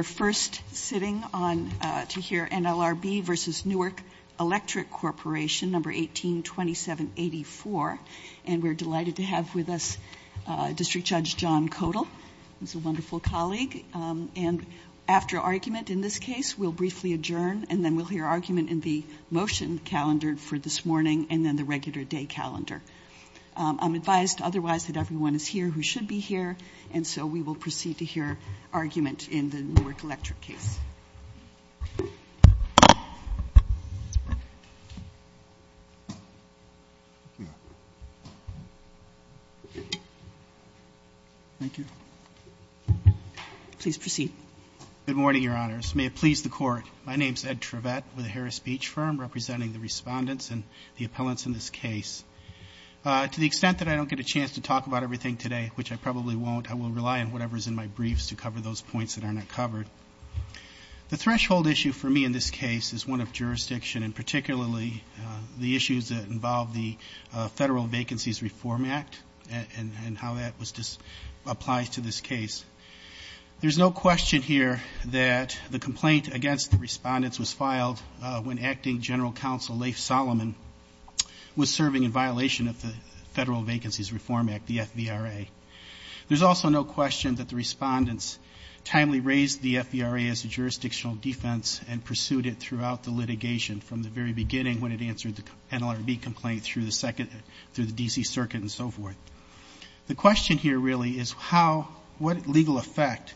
We're first sitting to hear NLRB v. Newark Electric Corporation, No. 182784. And we're delighted to have with us District Judge John Kodal, who's a wonderful colleague. And after argument in this case, we'll briefly adjourn, and then we'll hear argument in the motion calendar for this morning, and then the regular day calendar. I'm advised otherwise that everyone is here who should be here, and so we will proceed to hear argument in the Newark Electric case. Thank you. Please proceed. Good morning, Your Honors. May it please the Court. My name is Ed Trivette with the Harris Beach Firm, representing the respondents and the appellants in this case. To the extent that I don't get a chance to talk about everything today, which I probably won't, I will rely on whatever is in my briefs to cover those points that are not covered. The threshold issue for me in this case is one of jurisdiction, and particularly the issues that involve the Federal Vacancies Reform Act and how that applies to this case. There's no question here that the complaint against the respondents was filed when Acting General Counsel Leif Solomon was serving in violation of the Federal Vacancies Reform Act, the FVRA. There's also no question that the respondents timely raised the FVRA as a jurisdictional defense and pursued it throughout the litigation from the very beginning when it answered the NLRB complaint through the second, through the D.C. Circuit and so forth. The question here really is how, what legal effect,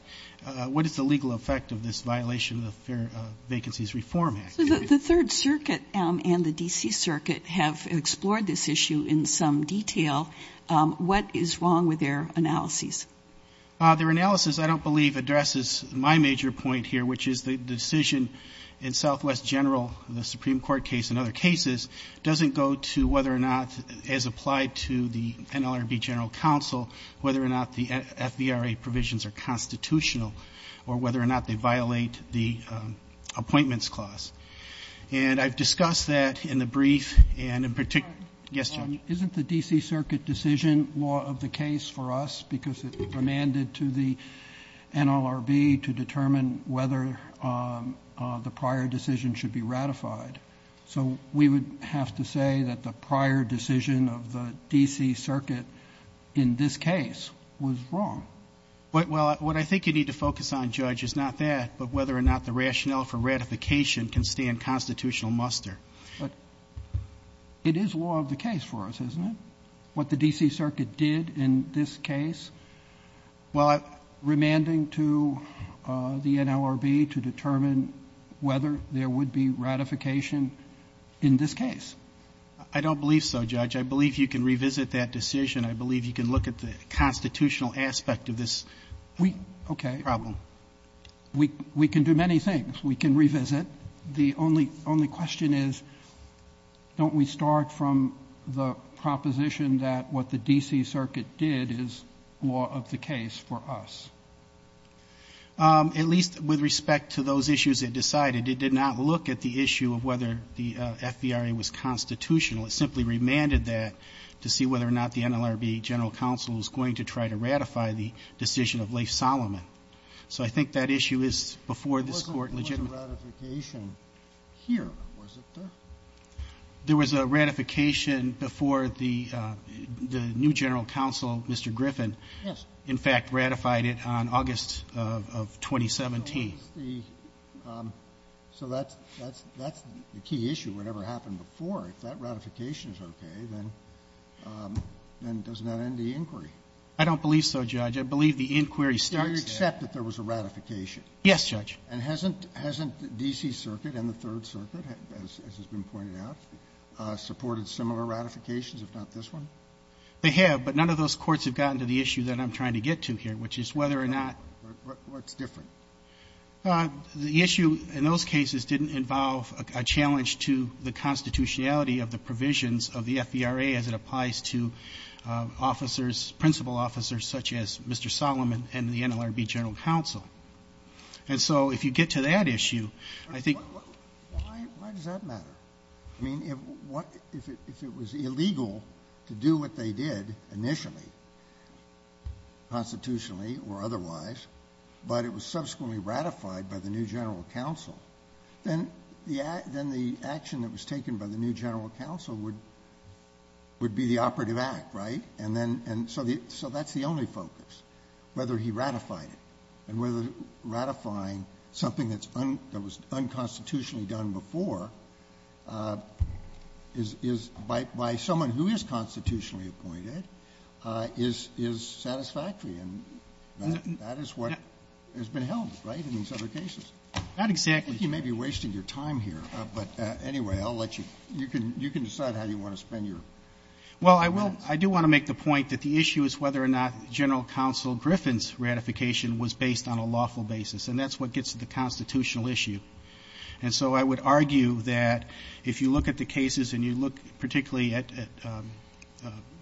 what is the legal effect of this violation of the Fair Vacancies Reform Act? The Third Circuit and the D.C. Circuit have explored this issue in some detail. What is wrong with their analyses? Their analysis I don't believe addresses my major point here, which is the decision in Southwest General, the Supreme Court case and other cases, doesn't go to whether or not, as applied to the NLRB General Counsel, whether or not the FVRA provisions are constitutional or whether or not they violate the appointments clause. And I've discussed that in the brief and in particular. Yes, Judge. Isn't the D.C. Circuit decision law of the case for us because it demanded to the NLRB to determine whether the prior decision should be ratified? So we would have to say that the prior decision of the D.C. Circuit in this case was wrong. Well, what I think you need to focus on, Judge, is not that, but whether or not the rationale for ratification can stand constitutional muster. But it is law of the case for us, isn't it? What the D.C. Circuit did in this case, while remanding to the NLRB to determine whether there would be ratification in this case. I don't believe so, Judge. I believe you can revisit that decision. I believe you can look at the constitutional aspect of this problem. Okay. We can do many things. We can revisit. The only question is, don't we start from the proposition that what the D.C. Circuit did is law of the case for us? At least with respect to those issues it decided. It did not look at the issue of whether the FVRA was constitutional. It simply remanded that to see whether or not the NLRB general counsel was going to try to ratify the decision of Leif Solomon. So I think that issue is before this Court legitimate. There was a ratification here, was it, though? There was a ratification before the new general counsel, Mr. Griffin. Yes. In fact, ratified it on August of 2017. So that's the key issue. Whatever happened before, if that ratification is okay, then does that end the inquiry? I don't believe so, Judge. I believe the inquiry starts there. Do you accept that there was a ratification? Yes, Judge. And hasn't the D.C. Circuit and the Third Circuit, as has been pointed out, supported similar ratifications, if not this one? They have, but none of those courts have gotten to the issue that I'm trying to get to here, which is whether or not — What's different? The issue in those cases didn't involve a challenge to the constitutionality of the provisions of the FVRA as it applies to officers, principal officers, such as Mr. Solomon and the NLRB general counsel. And so if you get to that issue, I think — Why does that matter? I mean, if it was illegal to do what they did initially, constitutionally or otherwise, but it was subsequently ratified by the new general counsel, then the action that was taken by the new general counsel would be the operative act, right? And so that's the only focus, whether he ratified it. And whether ratifying something that was unconstitutionally done before by someone who is constitutionally appointed is satisfactory. And that is what has been held, right, in these other cases. Not exactly. I think you may be wasting your time here. But anyway, I'll let you — you can decide how you want to spend your minutes. Well, I do want to make the point that the issue is whether or not General Counsel Griffin's ratification was based on a lawful basis. And that's what gets to the constitutional issue. And so I would argue that if you look at the cases and you look particularly at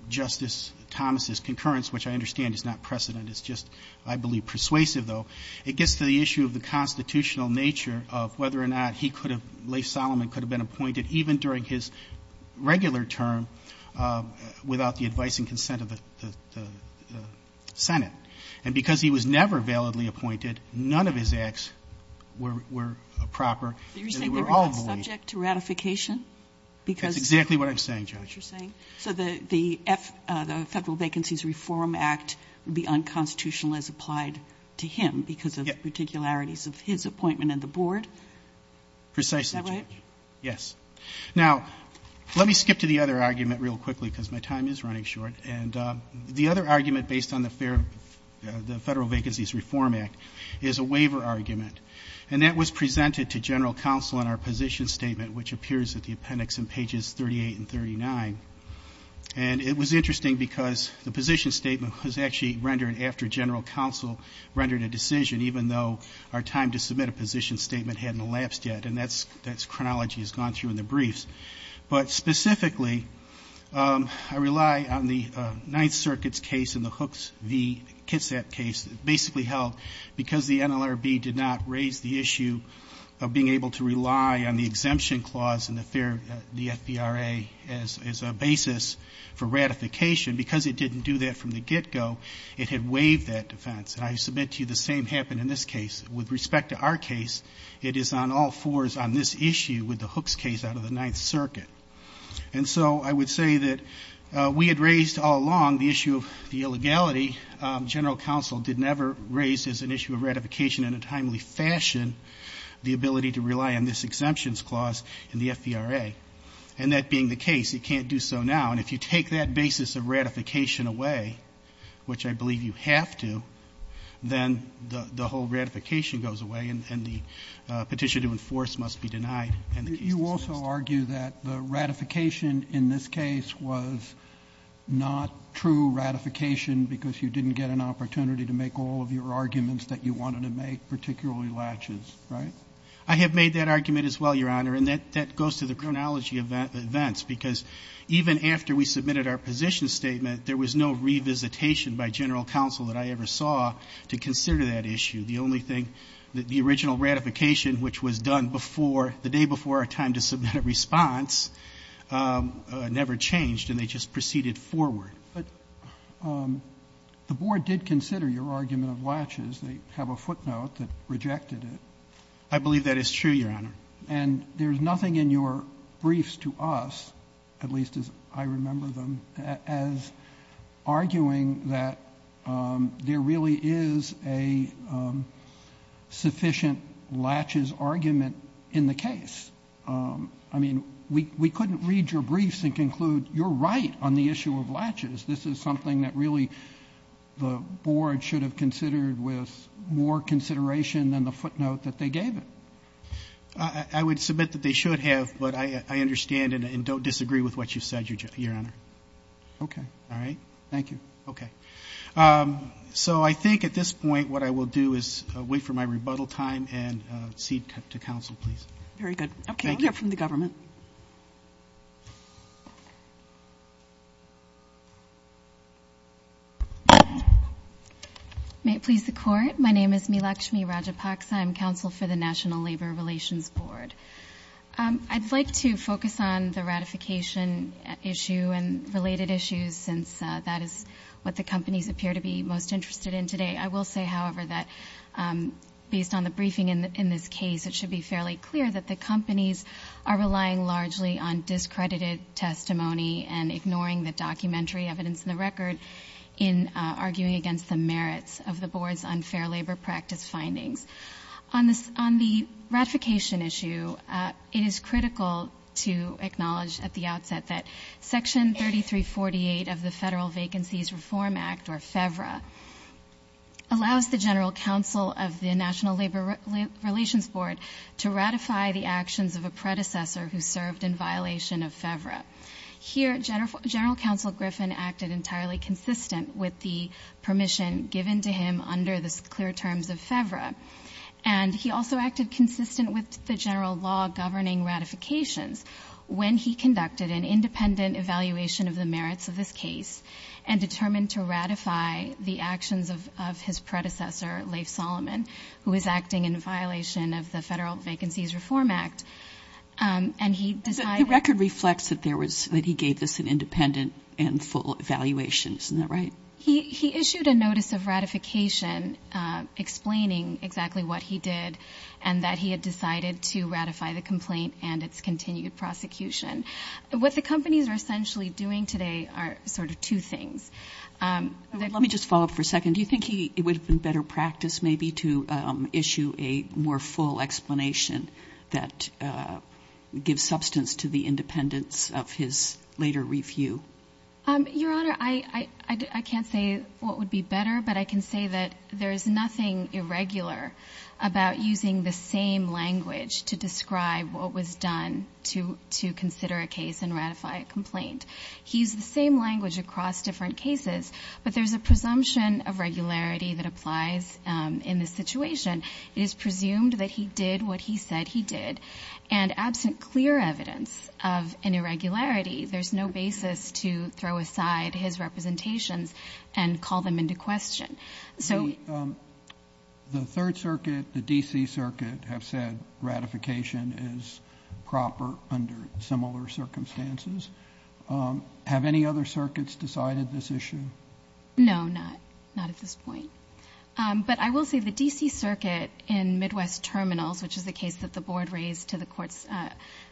Justice Thomas's concurrence, which I understand is not precedent, it's just, I believe, persuasive, though, it gets to the issue of the constitutional nature of whether or not he could have — Lafe Solomon could have been appointed even during his regular term without the advice and consent of the Senate. And because he was never validly appointed, none of his acts were proper. And they were all void. You're saying they were not subject to ratification? Because — Is that what you're saying? So the Federal Vacancies Reform Act would be unconstitutional as applied to him because of particularities of his appointment on the board? Precisely, Judge. Is that right? Yes. Now, let me skip to the other argument real quickly because my time is running short. And the other argument based on the Federal Vacancies Reform Act is a waiver argument. And that was presented to General Counsel in our position statement, which appears at the appendix in pages 38 and 39. And it was interesting because the position statement was actually rendered after General Counsel rendered a decision, even though our time to submit a position statement hadn't elapsed yet. And that's — that chronology has gone through in the briefs. But specifically, I rely on the Ninth Circuit's case and the Hooks v. Kitsap case that basically held because the NLRB did not raise the issue of being able to rely on the exemption clause in the FBRA as a basis for ratification. Because it didn't do that from the get-go, it had waived that defense. And I submit to you the same happened in this case. With respect to our case, it is on all fours on this issue with the Hooks case out of the Ninth Circuit. And so I would say that we had raised all along the issue of the illegality. General Counsel did never raise as an issue of ratification in a timely fashion the ability to rely on this exemptions clause in the FBRA. And that being the case, it can't do so now. And if you take that basis of ratification away, which I believe you have to, then the whole ratification goes away and the petition to enforce must be denied. And the case is dismissed. You also argue that the ratification in this case was not true ratification because you didn't get an opportunity to make all of your arguments that you wanted to make, particularly latches, right? I have made that argument as well, Your Honor. And that goes to the chronology of events, because even after we submitted our position statement, there was no revisitation by General Counsel that I ever saw to consider that issue. The only thing that the original ratification, which was done before, the day before our time to submit a response, never changed, and they just proceeded forward. But the Board did consider your argument of latches. They have a footnote that rejected it. I believe that is true, Your Honor. And there's nothing in your briefs to us, at least as I remember them, as arguing that there really is a sufficient latches argument in the case. I mean, we couldn't read your briefs and conclude you're right on the issue of latches. This is something that really the Board should have considered with more consideration than the footnote that they gave it. I would submit that they should have, but I understand and don't disagree with what you said, Your Honor. Okay. All right. Thank you. Okay. So I think at this point, what I will do is wait for my rebuttal time and cede to counsel, please. Very good. Okay, we'll hear from the government. May it please the Court. My name is Meelakshmi Rajapaksa. I'm counsel for the National Labor Relations Board. I'd like to focus on the ratification issue and related issues, since that is what the companies appear to be most interested in today. I will say, however, that based on the briefing in this case, it should be fairly clear that the companies are relying largely on discredited testimony and ignoring the documentary evidence and the record in arguing against the merits of the Board's unfair labor practice findings. On the ratification issue, it is critical to acknowledge at the outset that Section 3348 of the Federal Vacancies Reform Act, or FEVRA, allows the General Counsel of the National Labor Relations Board to ratify the actions of a predecessor who served in violation of FEVRA. Here, General Counsel Griffin acted entirely consistent with the permission given to him under the clear terms of FEVRA. And he also acted consistent with the general law governing ratifications when he conducted an independent evaluation of the merits of this case and determined to ratify the actions of his predecessor, Leif Solomon, who was acting in violation of the Federal Vacancies Reform Act. And he decided... The record reflects that he gave this an independent and full evaluation. Isn't that right? He issued a notice of ratification explaining exactly what he did and that he had decided to ratify the complaint and its continued prosecution. What the companies are essentially doing today are sort of two things. Let me just follow up for a second. Do you think it would have been better practice maybe to issue a more full explanation that gives substance to the independence of his later review? Your Honor, I can't say what would be better, but I can say that there is nothing irregular about using the same language to describe what was done to consider a case and ratify a complaint. He used the same language across different cases, but there's a presumption of regularity that applies in this situation. It is presumed that he did what he said he did, and absent clear evidence of an irregularity, there's no basis to throw aside his representations and call them into question. So... The Third Circuit, the D.C. Circuit have said ratification is proper under similar circumstances. Have any other circuits decided this issue? No, not at this point. But I will say the D.C. Circuit in Midwest Terminals, which is the case that the Board raised to the Court's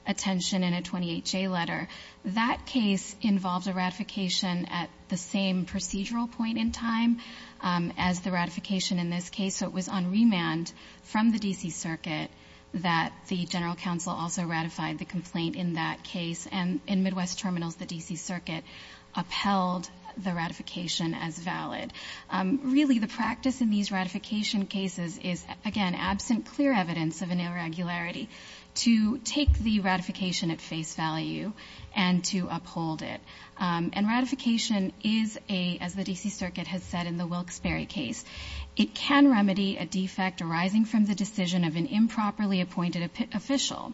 attention in a 28-J letter, that case involved a ratification at the same procedural point in time as the ratification in this case. So it was on remand from the D.C. Circuit that the General Counsel also ratified the complaint in that case. And in Midwest Terminals, the D.C. Circuit upheld the ratification as valid. Really, the practice in these ratification cases is, again, absent clear evidence of an irregularity to take the ratification at face value and to uphold it. And ratification is a, as the D.C. Circuit has said in the Wilkes-Barre case, it can remedy a defect arising from the decision of an improperly appointed official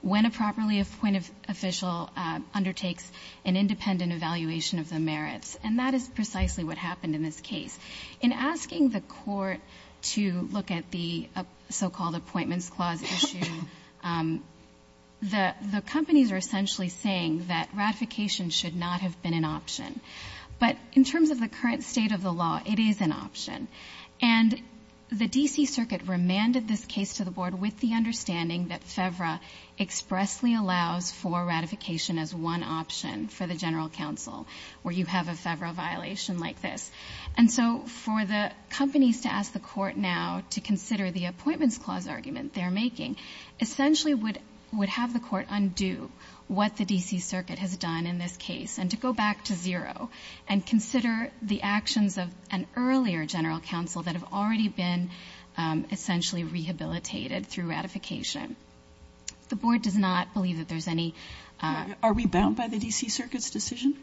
when a properly appointed official undertakes an independent evaluation of the merits. And that is precisely what happened in this case. In asking the Court to look at the so-called Appointments Clause issue, the companies are essentially saying that ratification should not have been an option. But in terms of the current state of the law, it is an option. And the D.C. Circuit remanded this case to the Board with the understanding that FEVRA expressly allows for ratification as one option for the General Counsel where you have a FEVRA violation like this. And so for the companies to ask the Court now to consider the Appointments Clause argument they're making essentially would have the Court undo what the D.C. Circuit has done in this case and to go back to zero and consider the actions of an earlier General Counsel that have already been essentially rehabilitated through ratification. The Board does not believe that there's any – Sotomayor, are we bound by the D.C. Circuit's decision?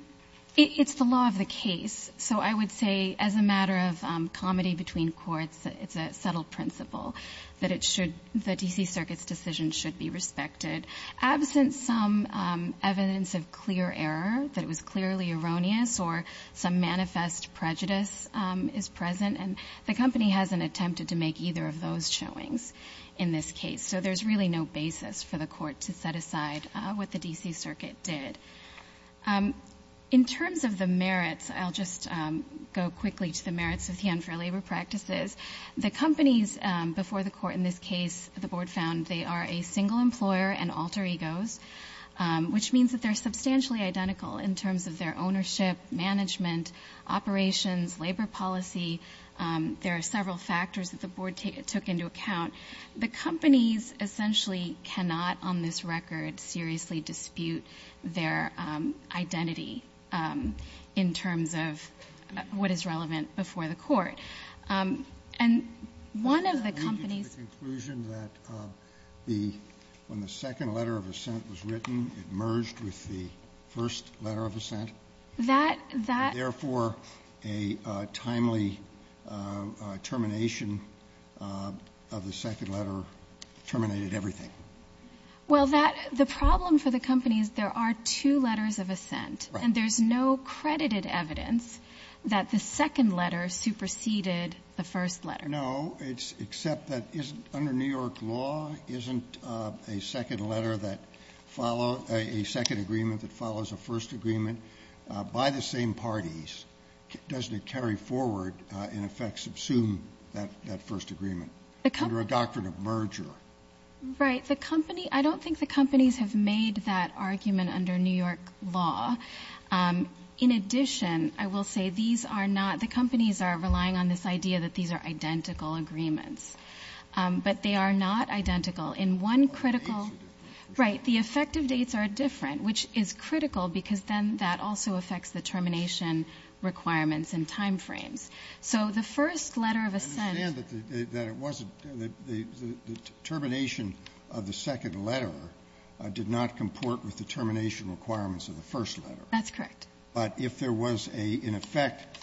It's the law of the case. So I would say as a matter of comedy between courts, it's a subtle principle that it should – the D.C. Circuit's decision should be respected. Absent some evidence of clear error, that it was clearly erroneous or some manifest prejudice is present, and the company hasn't attempted to make either of those showings in this case. So there's really no basis for the Court to set aside what the D.C. Circuit did. In terms of the merits, I'll just go quickly to the merits of the unfair labor practices. The companies before the Court in this case, the Board found they are a single employer and alter egos, which means that they're substantially identical in terms of their ownership, management, operations, labor policy. There are several factors that the Board took into account. The companies essentially cannot, on this record, seriously dispute their identity in terms of what is relevant before the Court. And one of the companies – I'm going to conclude that the – when the second letter of assent was written, it merged with the first letter of assent. That – that – the second letter terminated everything. Well, that – the problem for the company is there are two letters of assent. Right. And there's no credited evidence that the second letter superseded the first letter. No. It's – except that isn't – under New York law, isn't a second letter that follow – a second agreement that follows a first agreement by the same parties, doesn't it carry forward, in effect, subsume that first agreement? Under a doctrine of merger. Right. The company – I don't think the companies have made that argument under New York law. In addition, I will say these are not – the companies are relying on this idea that these are identical agreements. But they are not identical. In one critical – Right. The effective dates are different, which is critical because then that also affects the termination requirements and time frames. So the first letter of assent – I understand that it wasn't – the termination of the second letter did not comport with the termination requirements of the first letter. That's correct. But if there was a – in effect,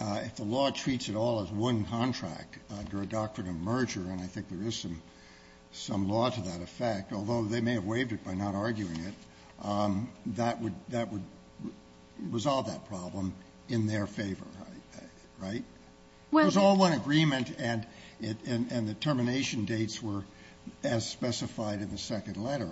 if the law treats it all as one contract under a doctrine of merger, and I think there is some law to that effect, although they may have waived it by not arguing it, that would – that would resolve that problem in their favor. Right? If it was all one agreement and the termination dates were as specified in the second letter,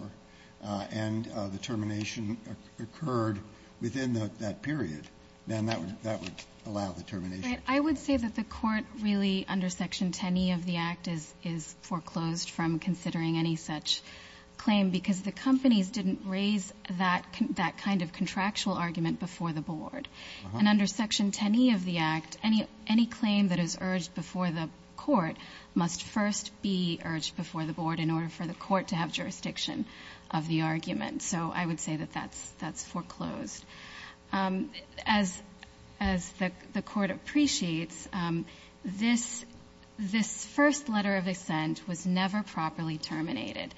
and the termination occurred within that period, then that would allow the termination. Right. I would say that the Court really, under Section 10e of the Act, is foreclosed from considering any such claim because the companies didn't raise that kind of contractual argument before the Board. And under Section 10e of the Act, any claim that is urged before the Court must first be urged before the Board in order for the Court to have jurisdiction of the argument. So I would say that that's foreclosed. As the Court appreciates, this first letter of assent was never properly terminated.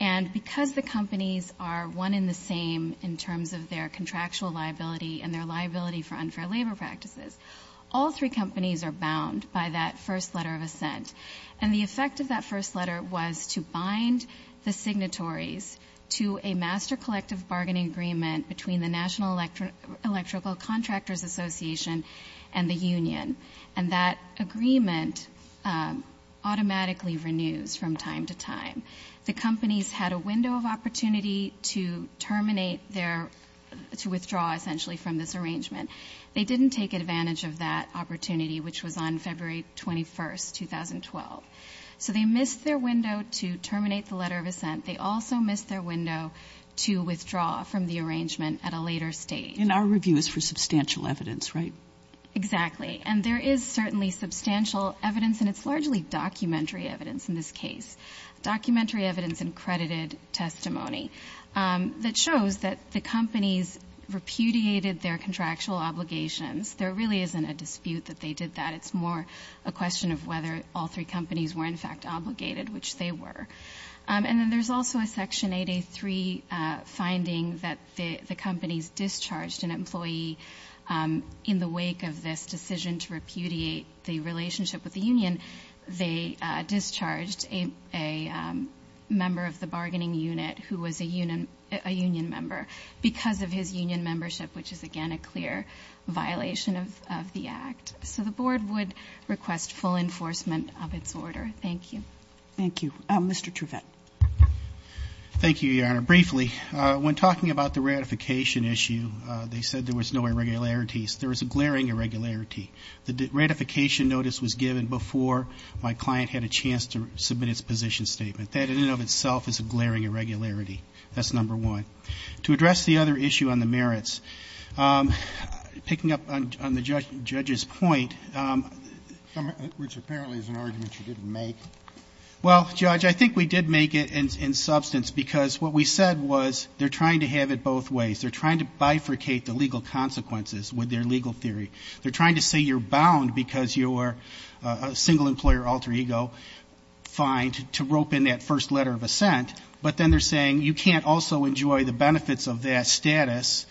And because the companies are one in the same in terms of their contractual liability and their liability for unfair labor practices, all three companies are bound by that first letter of assent. And the effect of that first letter was to bind the signatories to a master collective bargaining agreement between the National Electrical Contractors Association and the union. And that agreement automatically renews from time to time. The companies had a window of opportunity to terminate their, to withdraw essentially from this arrangement. They didn't take advantage of that opportunity, which was on February 21st, 2012. So they missed their window to terminate the letter of assent. They also missed their window to withdraw from the arrangement at a later stage. And our review is for substantial evidence, right? Exactly. And there is certainly substantial evidence, and it's largely documentary evidence in this case. Documentary evidence and credited testimony that shows that the companies repudiated their contractual obligations. There really isn't a dispute that they did that. It's more a question of whether all three companies were in fact obligated, which they were. And then there's also a Section 8A3 finding that the companies discharged an employee in the wake of this decision to repudiate the relationship with the union. They discharged a member of the bargaining unit who was a union member because of his union membership, which is again a clear violation of the Act. So the Board would request full enforcement of its order. Thank you. Thank you. Mr. Truvette. Thank you, Your Honor. Briefly, when talking about the ratification issue, they said there was no irregularities. There was a glaring irregularity. The ratification notice was given before my client had a chance to submit his position statement. That in and of itself is a glaring irregularity. That's number one. To address the other issue on the merits, picking up on the judge's point, which apparently is an argument you didn't make. Well, Judge, I think we did make it in substance because what we said was they're trying to have it both ways. They're trying to bifurcate the legal consequences with their legal theory. They're trying to say you're bound because you're a single employer alter ego, fined, to rope in that first letter of assent. But then they're saying you can't also enjoy the benefits of that status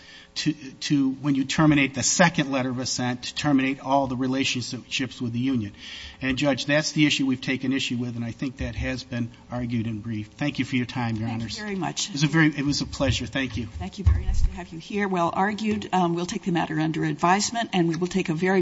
when you terminate the second letter of assent to terminate all the relationships with the union. And, Judge, that's the issue we've taken issue with, and I think that has been argued in brief. Thank you for your time, Your Honors. Thank you very much. It was a pleasure. Thank you. Thank you. Very nice to have you here. Well argued. We'll take the matter under advisement, and we will take a very